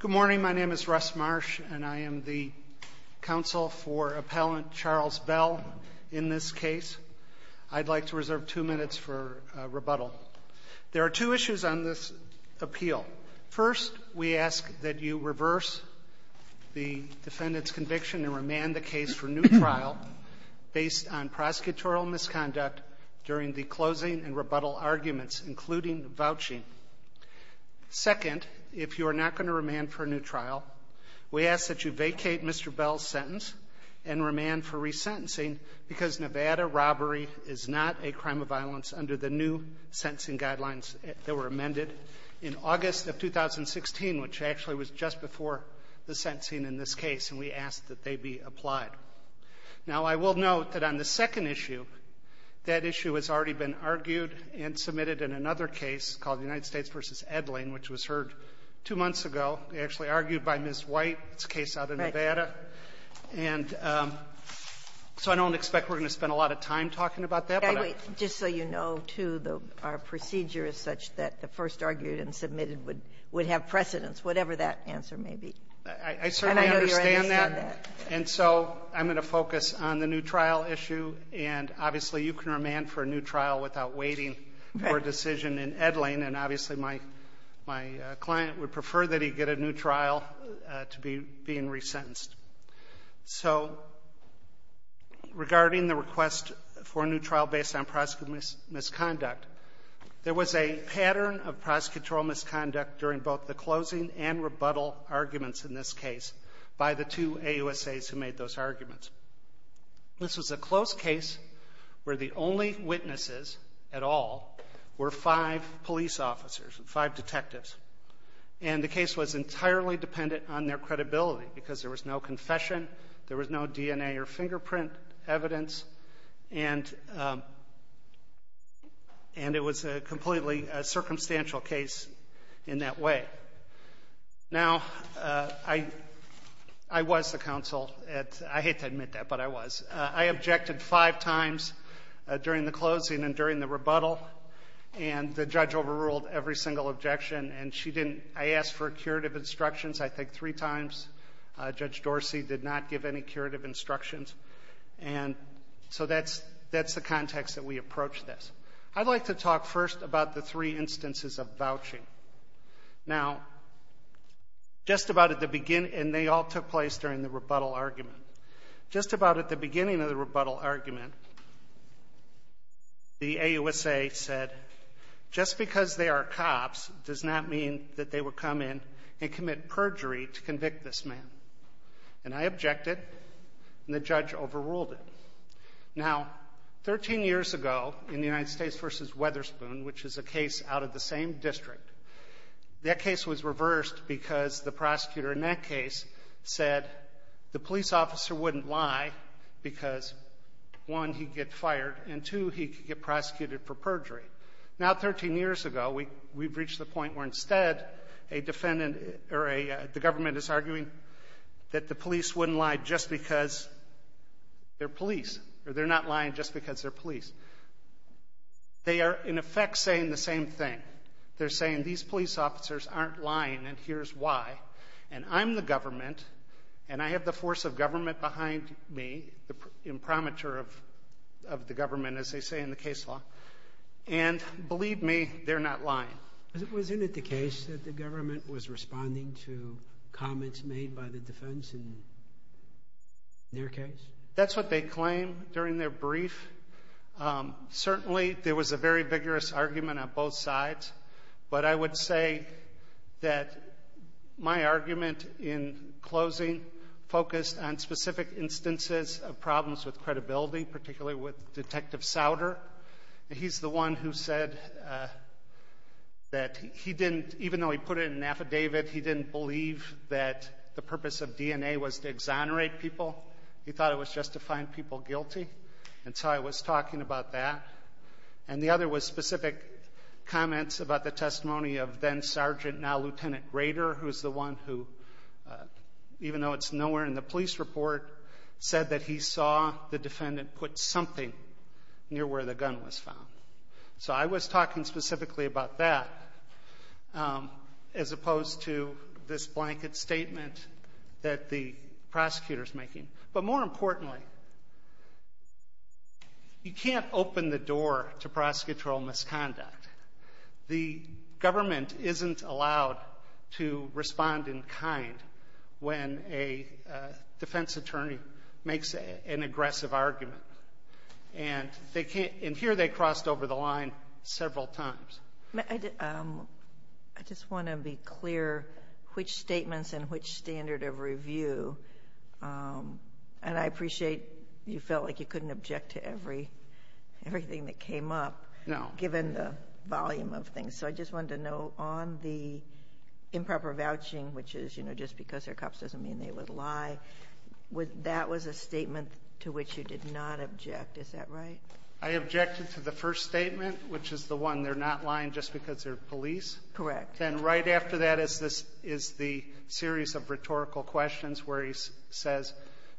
Good morning. My name is Russ Marsh, and I am the counsel for appellant Charles Bell in this case. I'd like to reserve two minutes for rebuttal. There are two issues on this appeal. First, we ask that you reverse the defendant's conviction and remand the case for new trial based on prosecutorial misconduct during the closing and rebuttal arguments, including vouching. Second, if you are not going to remand for a new trial, we ask that you vacate Mr. Bell's sentence and remand for resentencing because Nevada robbery is not a crime of violence under the new sentencing guidelines that were amended in August of 2016, which actually was just before the sentencing in this case, and we ask that they be applied. Now, I will note that on the second issue, that issue has already been argued and submitted in another case called United States v. Edling, which was heard two months ago. It was actually argued by Ms. White. It's a case out of Nevada. And so I don't expect we're going to spend a lot of time talking about that. But I don't know. Ginsburg. Just so you know, too, our procedure is such that the first argued and submitted would have precedence, whatever that answer may be. I certainly understand that. And so I'm going to focus on the new trial issue. And obviously, you can remand for a new trial without waiting for a decision in Edling. And obviously, my client would prefer that he get a new trial to be being resentenced. So regarding the request for a new trial based on prosecutorial misconduct, there was a pattern of prosecutorial misconduct during both the closing and rebuttal arguments in this case by the two AUSAs who made those arguments. This was a closed case where the only witnesses at all were five police officers, five detectives. And the case was entirely dependent on their credibility because there was no confession, there was no DNA or fingerprint evidence. And it was a completely circumstantial case in that way. Now, I was the counsel. I hate to admit that, but I was. I objected five times during the closing and during the rebuttal. And the judge overruled every single objection. And I asked for curative instructions, I think, three times. Judge Dorsey did not give any curative instructions. And so that's the context that we approached this. I'd like to talk first about the three instances of vouching. Now, just about at the beginning, and they all took place during the rebuttal argument. Just about at the beginning of the rebuttal argument, the AUSA said, just because they are cops does not mean that they will come in and commit perjury to convict this man. And I objected, and the judge overruled it. Now, 13 years ago, in the United States versus Weatherspoon, which is a case out of the same district, that case was reversed because the prosecutor in that case said the police officer wouldn't lie because, one, he'd get fired, and two, he could get prosecuted for perjury. Now, 13 years ago, we've reached the point where instead, a defendant, or the government is arguing that the police wouldn't lie just because they're police, or they're not lying just because they're police. They are, in effect, saying the same thing. They're saying these police officers aren't lying, and here's why. And I'm the government, and I have the force of government behind me, the imprimatur of the government, as they say in the case law. And believe me, they're not lying. Was it the case that the government was responding to comments made by the defense in their case? That's what they claim during their brief. Certainly, there was a very vigorous argument on both sides. But I would say that my argument in closing focused on specific instances of problems with credibility, particularly with Detective Souter. He's the one who said that he didn't, even though he put it in an affidavit, he didn't believe that the purpose of DNA was to exonerate people. He thought it was just to find people guilty, and so I was talking about that. And the other was specific comments about the testimony of then-Sergeant, now-Lieutenant Grader, who's the one who, even though it's nowhere in the police report, said that he saw the defendant put something near where the gun was found. So I was talking specifically about that, as opposed to this blanket statement that the prosecutor's making. But more importantly, you can't open the door to prosecutorial misconduct. The government isn't allowed to respond in kind when a defense attorney makes an aggressive argument. And here they crossed over the line several times. I just want to be clear which statements and which standard of review, and I appreciate you felt like you couldn't object to everything that came up. No. Given the volume of things. So I just wanted to know, on the improper vouching, which is, you know, just because they're cops doesn't mean they would lie, that was a statement to which you did not object. Is that right? I objected to the first statement, which is the one, they're not lying just because they're police. Correct. Then right after that is the series of rhetorical questions where he says,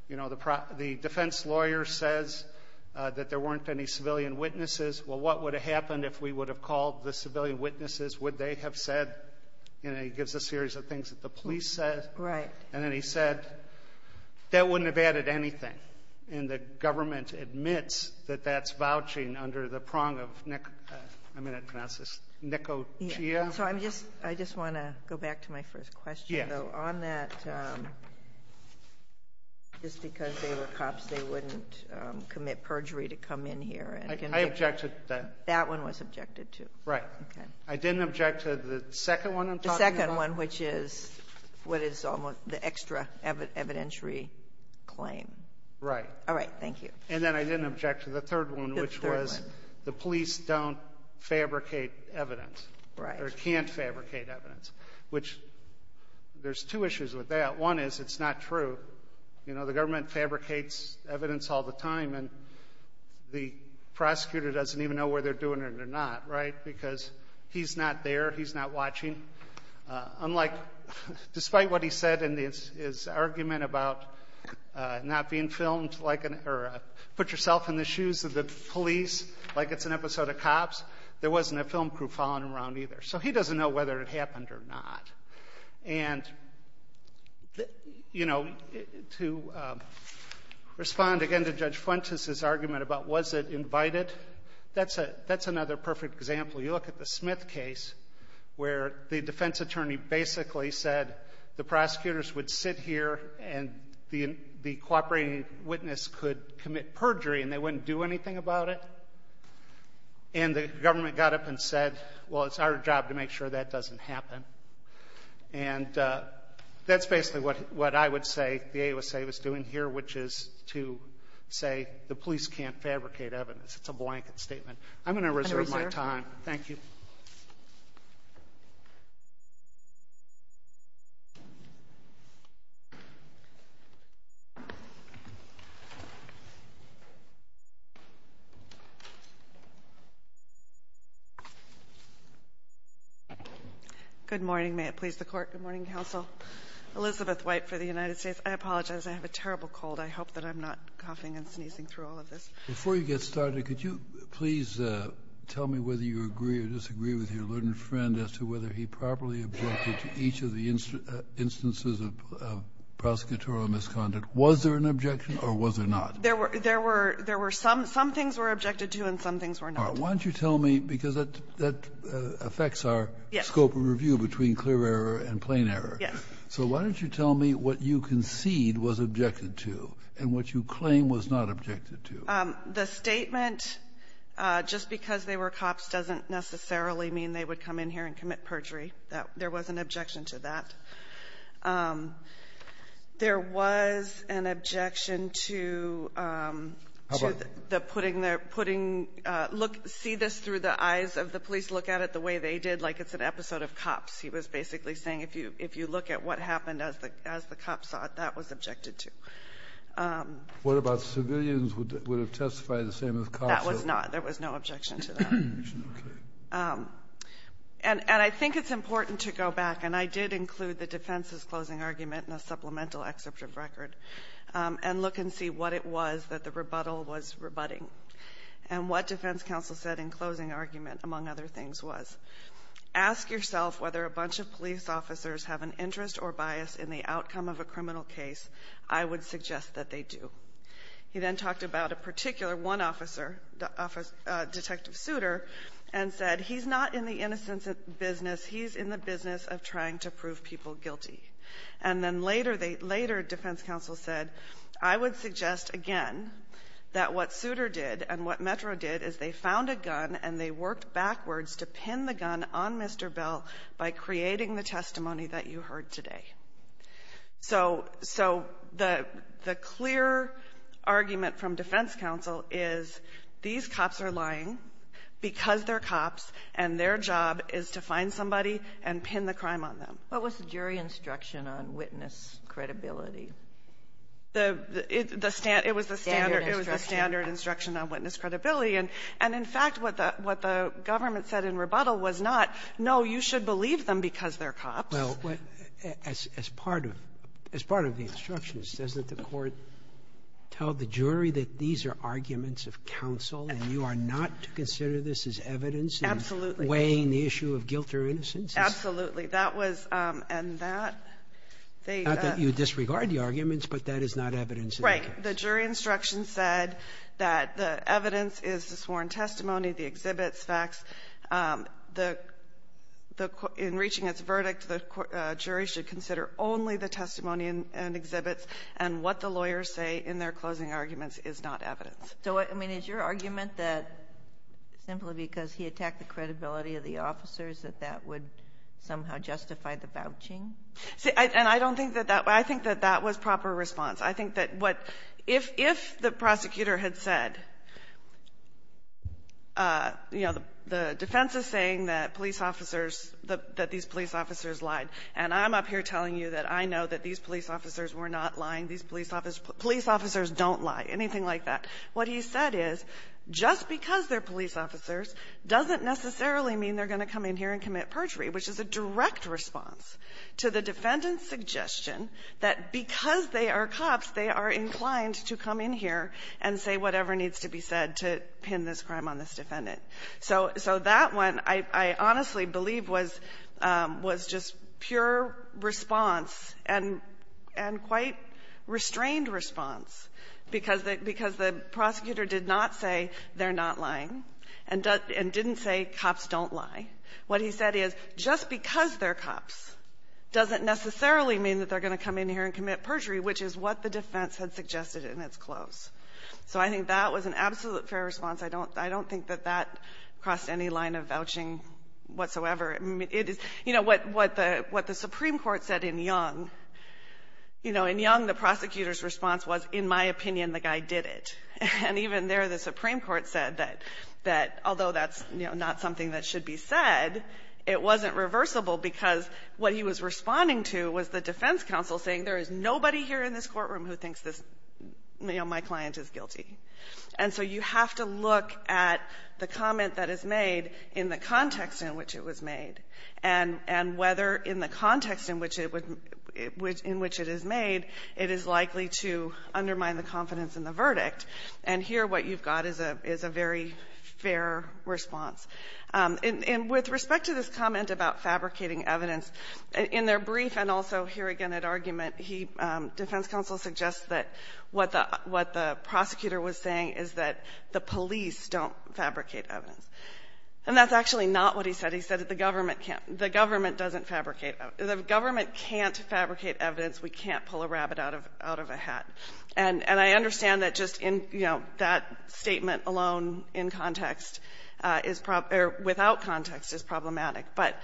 you know, the defense lawyer says that there weren't any civilian witnesses. Well, what would have happened if we would have called the civilian witnesses? Would they have said, you know, he gives a series of things that the police said. Right. And then he said, that wouldn't have added anything. And the government admits that that's vouching under the prong of, I'm going to pronounce this, Nicotia. So I'm just, I just want to go back to my first question, though. On that, just because they were cops, they wouldn't commit perjury to come in here. I objected to that. That one was objected to. Right. Okay. I didn't object to the second one I'm talking about. The second one, which is what is almost the extra evidentiary claim. Right. All right. Thank you. And then I didn't object to the third one, which was the police don't fabricate evidence. Right. Or can't fabricate evidence, which there's two issues with that. One is it's not true. You know, the government fabricates evidence all the time. And the prosecutor doesn't even know whether they're doing it or not. Right. Because he's not there. He's not watching. Unlike, despite what he said in his argument about not being filmed, like, or put yourself in the shoes of the police, like it's an episode of cops, there wasn't a film crew following around either. So he doesn't know whether it happened or not. And, you know, to respond again to Judge Fuentes' argument about was it invited, that's another perfect example. You look at the Smith case where the defense attorney basically said the prosecutors would sit here and the cooperating witness could commit perjury and they wouldn't do anything about it. And the government got up and said, well, it's our job to make sure that doesn't happen. And that's basically what I would say the AUSA was doing here, which is to say the police can't fabricate evidence. It's a blanket statement. I'm going to reserve my time. Thank you. Good morning. May it please the Court. Good morning, Counsel. Elizabeth White for the United States. I apologize. I have a terrible cold. I hope that I'm not coughing and sneezing through all of this. Before you get started, could you please tell me whether you agree or disagree with your learned friend as to whether he properly objected to each of the instances of prosecutorial misconduct? Was there an objection or was there not? There were there were there were some some things were objected to and some things were not. Why don't you tell me? Because that that affects our scope of review between clear error and plain error. Yes. So why don't you tell me what you concede was objected to and what you claim was not objected to? The statement, just because they were cops, doesn't necessarily mean they would come in here and commit perjury. That there was an objection to that. There was an objection to the putting their putting look, see this through the eyes of the police, look at it the way they did, like it's an episode of cops. He was basically saying, if you if you look at what happened as the as the cops thought that was objected to. What about civilians who would have testified the same as cops? That was not there was no objection to that. And I think it's important to go back. And I did include the defense's closing argument in a supplemental excerpt of record and look and see what it was that the rebuttal was rebutting and what defense counsel said in closing argument, among other things, was ask yourself whether a bunch of police officers have an interest or bias in the outcome of a criminal case. I would suggest that they do. He then talked about a particular one officer, Detective Souter, and said he's not in the innocence of business. He's in the business of trying to prove people guilty. And then later, they later defense counsel said, I would suggest again that what Souter did and what Metro did is they found a gun and they worked backwards to pin the gun on Mr. Bell by creating the testimony that you heard today. So the clear argument from defense counsel is these cops are lying because they're cops and their job is to find somebody and pin the crime on them. What was the jury instruction on witness credibility? It was the standard instruction on witness credibility. And in fact, what the government said in rebuttal was not, no, you should believe them because they're cops. Well, as part of the instructions, doesn't the court tell the jury that these are arguments of counsel and you are not to consider this as evidence in weighing the issue of guilt or innocence? Absolutely. That was and that they. Not that you disregard the arguments, but that is not evidence. Right. The jury instruction said that the evidence is the sworn testimony, the exhibits, facts, the in reaching its verdict, the jury should consider only the testimony and exhibits, and what the lawyers say in their closing arguments is not evidence. So I mean, is your argument that simply because he attacked the credibility of the officers that that would somehow justify the vouching? See, and I don't think that that was the proper response. I think that what if the prosecutor had said, you know, the defense is saying that police officers lied, and I'm up here telling you that I know that these police officers were not lying, these police officers don't lie, anything like that, what he said is just because they're police officers doesn't necessarily mean they're going to come in here and commit perjury, which is a direct response to the defendant's suggestion that because they are cops, they are inclined to come in here and say whatever needs to be said to pin this crime on this defendant. So that one, I honestly believe, was just pure response and quite restrained response, because the prosecutor did not say they're not lying and didn't say cops don't lie. What he said is just because they're cops doesn't necessarily mean that they're going to come in here and commit perjury, which is what the defense had suggested in its close. So I think that was an absolute fair response. I don't think that that crossed any line of vouching whatsoever. It is, you know, what the Supreme Court said in Young, you know, in Young, the prosecutor's response was, in my opinion, the guy did it. And even there, the Supreme Court said that although that's not something that should be said, it wasn't reversible, because what he was responding to was the defense counsel saying there is nobody here in this courtroom who thinks this, you know, my client is guilty. And so you have to look at the comment that is made in the context in which it was made, and whether in the context in which it would be, in which it is made, it is likely to undermine the confidence in the verdict. And here what you've got is a very fair response. And with respect to this comment about fabricating evidence, in their brief and also here again at argument, he --- defense counsel suggests that what the prosecutor was saying is that the police don't fabricate evidence. And that's actually not what he said. He said that the government can't --- the government doesn't fabricate evidence. The government can't fabricate evidence. We can't pull a rabbit out of a hat. And I understand that just in, you know, that statement alone in context is probably problematic, or without context is problematic. But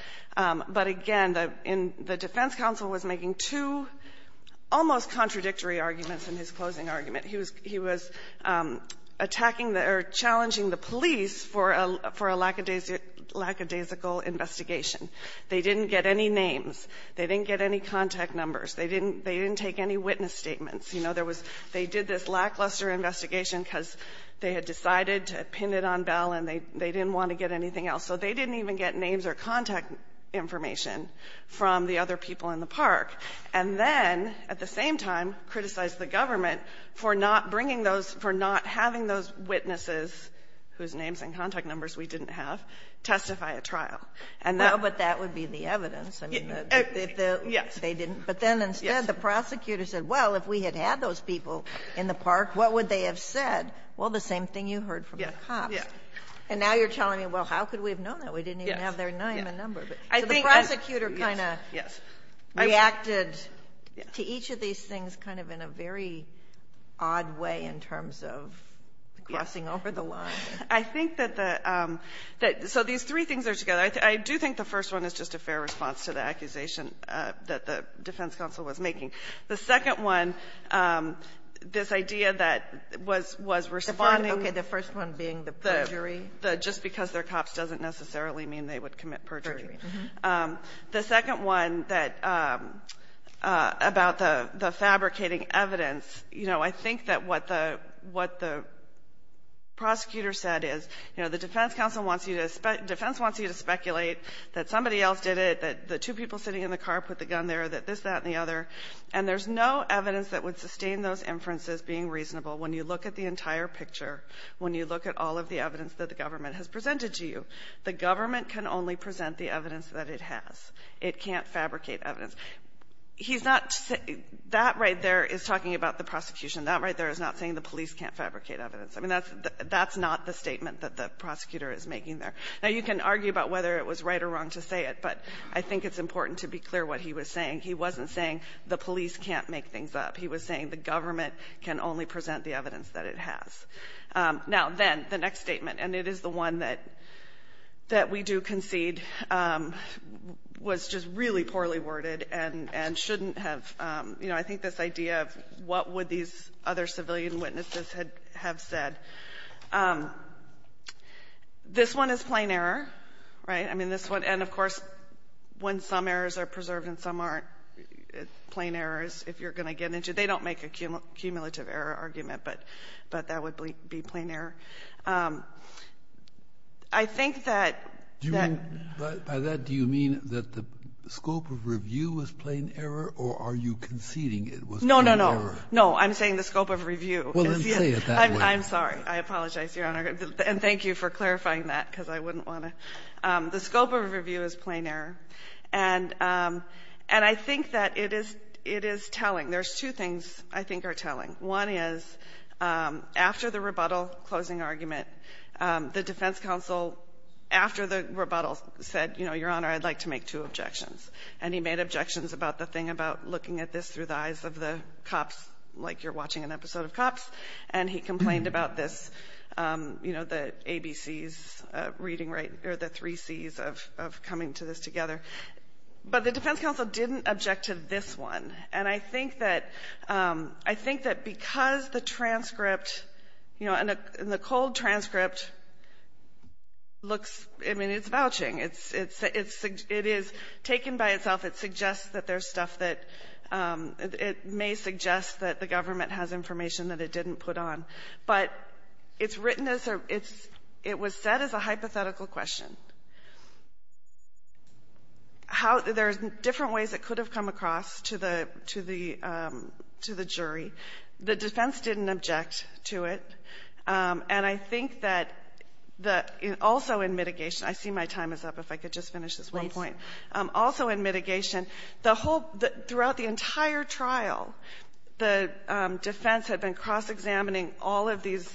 again, the defense counsel was making two almost contradictory arguments in his closing argument. He was attacking the or challenging the police for a lackadaisical investigation. They didn't get any names. They didn't get any contact numbers. They didn't take any witness statements. You know, there was they did this lackluster investigation because they had decided to pin it on Bell, and they didn't want to get anything else. So they didn't even get names or contact information from the other people in the park, and then at the same time criticized the government for not bringing those -- for not having those witnesses, whose names and contact numbers we didn't have, And that --- Ginsburg-Well, but that would be the evidence. I mean, the --- O'Connor-Yes. Ginsburg-They didn't. But then instead, the prosecutor said, well, if we had had those people in the park, what would they have said? Well, the same thing you heard from the cops. O'Connor-Yes. Ginsburg-And now you're telling me, well, how could we have known that? We didn't even have their name and number. Yes. Yes. I think I--. Ginsburg-So the prosecutor kind of reacted to each of these things kind of in a very odd way in terms of crossing over the line. O'Connor-I think that the so these three things are together. I do think the first one is just a fair response to the accusation that the defense counsel was making. The second one, this idea that was responding- Ginsburg-Okay. The first one being the perjury? O'Connor-The just because they're cops doesn't necessarily mean they would commit perjury. Ginsburg-Perjury. O'Connor-The second one that about the fabricating evidence, you know, I think that what the prosecutor said is, you know, the defense counsel wants you to ‑‑ defense wants you to speculate that somebody else did it, that the two people sitting in the car put the gun there, that this, that, and the other. And there's no evidence that would sustain those inferences being reasonable when you look at the entire picture, when you look at all of the evidence that the government has presented to you. The government can only present the evidence that it has. It can't fabricate evidence. He's not saying ‑‑ that right there is talking about the prosecution. That right there is not saying the police can't fabricate evidence. I mean, that's not the statement that the prosecutor is making there. Now, you can argue about whether it was right or wrong to say it, but I think it's important to be clear what he was saying. He wasn't saying the police can't make things up. He was saying the government can only present the evidence that it has. Now, then, the next statement, and it is the one that we do concede was just really poorly worded and shouldn't have, you know, I think this idea of what would these other civilian witnesses have said. This one is plain error, right? I mean, this one ‑‑ and, of course, when some errors are preserved and some aren't, it's plain errors. If you're going to get into ‑‑ they don't make a cumulative error argument, but that would be plain error. I think that ‑‑ Kennedy, by that, do you mean that the scope of review was plain error, or are you conceding it was plain error? No, no, no. I'm saying the scope of review. Well, then say it that way. I'm sorry. I apologize, Your Honor. And thank you for clarifying that, because I wouldn't want to. The scope of review is plain error, and I think that it is telling. There's two things I think are telling. One is, after the rebuttal, closing argument, the defense counsel, after the rebuttal, said, you know, Your Honor, I'd like to make two objections, and he made objections about the thing about looking at this through the eyes of the cops like you're talking about this, you know, the ABCs reading, or the three Cs of coming to this together. But the defense counsel didn't object to this one, and I think that ‑‑ I think that because the transcript, you know, and the cold transcript looks ‑‑ I mean, it's vouching. It's ‑‑ it is taken by itself. It suggests that there's stuff that ‑‑ it may suggest that the government has information that it didn't put on. But it's written as a ‑‑ it's ‑‑ it was said as a hypothetical question. How ‑‑ there's different ways it could have come across to the ‑‑ to the jury. The defense didn't object to it, and I think that the ‑‑ also in mitigation ‑‑ I see my time is up. If I could just finish this one point. Also in mitigation, the whole ‑‑ throughout the entire trial, the defense had been cross‑examining all of these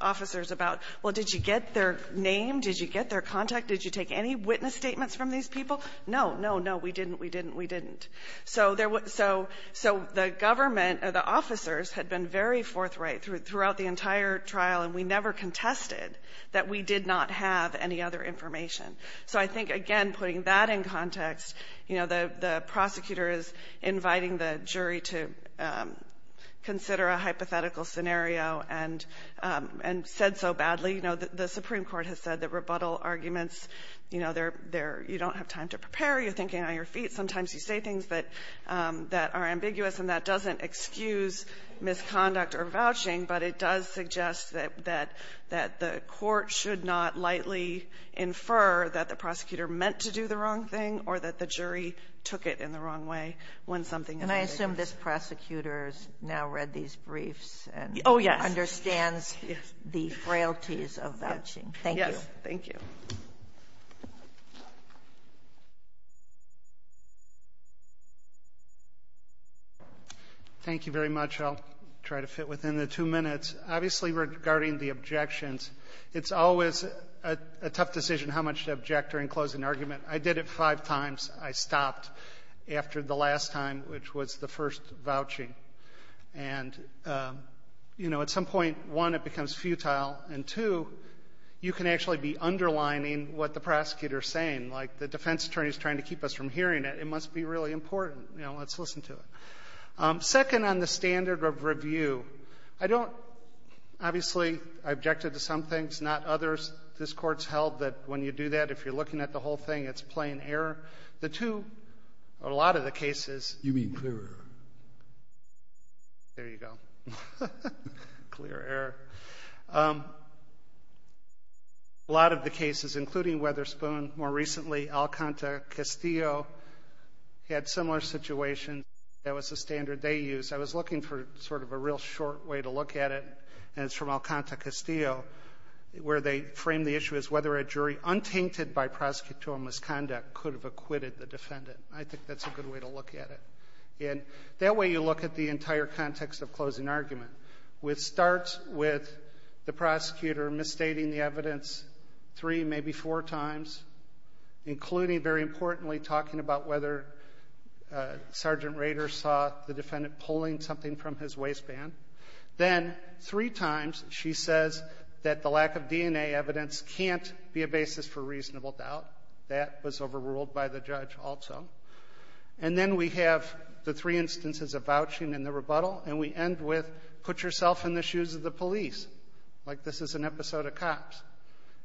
officers about, well, did you get their name? Did you get their contact? Did you take any witness statements from these people? No, no, no, we didn't, we didn't, we didn't. So there was ‑‑ so the government, or the officers had been very forthright throughout the entire trial, and we never contested that we did not have any other information. So I think, again, putting that in context, you know, the prosecutor is inviting the jury to take a hypothetical scenario and said so badly. You know, the Supreme Court has said that rebuttal arguments, you know, they're ‑‑ you don't have time to prepare, you're thinking on your feet. Sometimes you say things that are ambiguous, and that doesn't excuse misconduct or vouching, but it does suggest that the court should not lightly infer that the prosecutor meant to do the wrong thing or that the jury took it in the wrong way when something ‑‑ And I assume this prosecutor has now read these briefs and understands the frailties of vouching. Thank you. Yes. Thank you. Thank you very much. I'll try to fit within the two minutes. Obviously, regarding the objections, it's always a tough decision how much to object or enclose an argument. I did it five times. I stopped after the last time, which was the first vouching. And, you know, at some point, one, it becomes futile, and, two, you can actually be underlining what the prosecutor is saying. Like the defense attorney is trying to keep us from hearing it. It must be really important. You know, let's listen to it. Second on the standard of review, I don't ‑‑ obviously, I objected to some things, not others. This Court's held that when you do that, if you're looking at the whole thing, it's a plain error. The two ‑‑ or a lot of the cases ‑‑ You mean clear error. There you go. Clear error. A lot of the cases, including Witherspoon, more recently Alcanta Castillo, had similar situations. That was the standard they used. I was looking for sort of a real short way to look at it, and it's from Alcanta Castillo, where they frame the issue as whether a jury untainted by prosecutorial misconduct could have acquitted the defendant. I think that's a good way to look at it. And that way, you look at the entire context of closing argument, which starts with the prosecutor misstating the evidence three, maybe four times, including, very importantly, talking about whether Sergeant Rader saw the defendant pulling something from his waistband. Then three times, she says that the lack of DNA evidence can't be a basis for reasonable doubt. That was overruled by the judge also. And then we have the three instances of vouching and the rebuttal, and we end with put yourself in the shoes of the police, like this is an episode of Cops.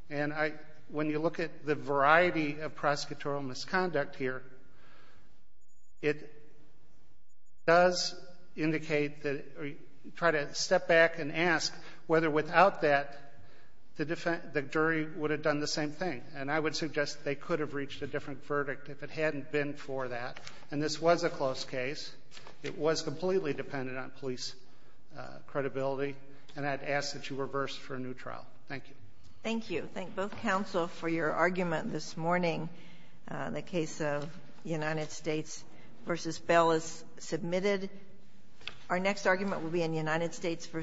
And I, when you look at the variety of prosecutorial misconduct here, it does indicate that, try to step back and ask whether without that, the jury would have done the same thing. And I would suggest they could have reached a different verdict if it hadn't been for that. And this was a close case. It was completely dependent on police credibility, and I'd ask that you reverse for a new trial. Thank you. Thank you. Thank both counsel for your argument this morning. The case of United States v. Bell is submitted. Our next argument will be in United States v. Ward.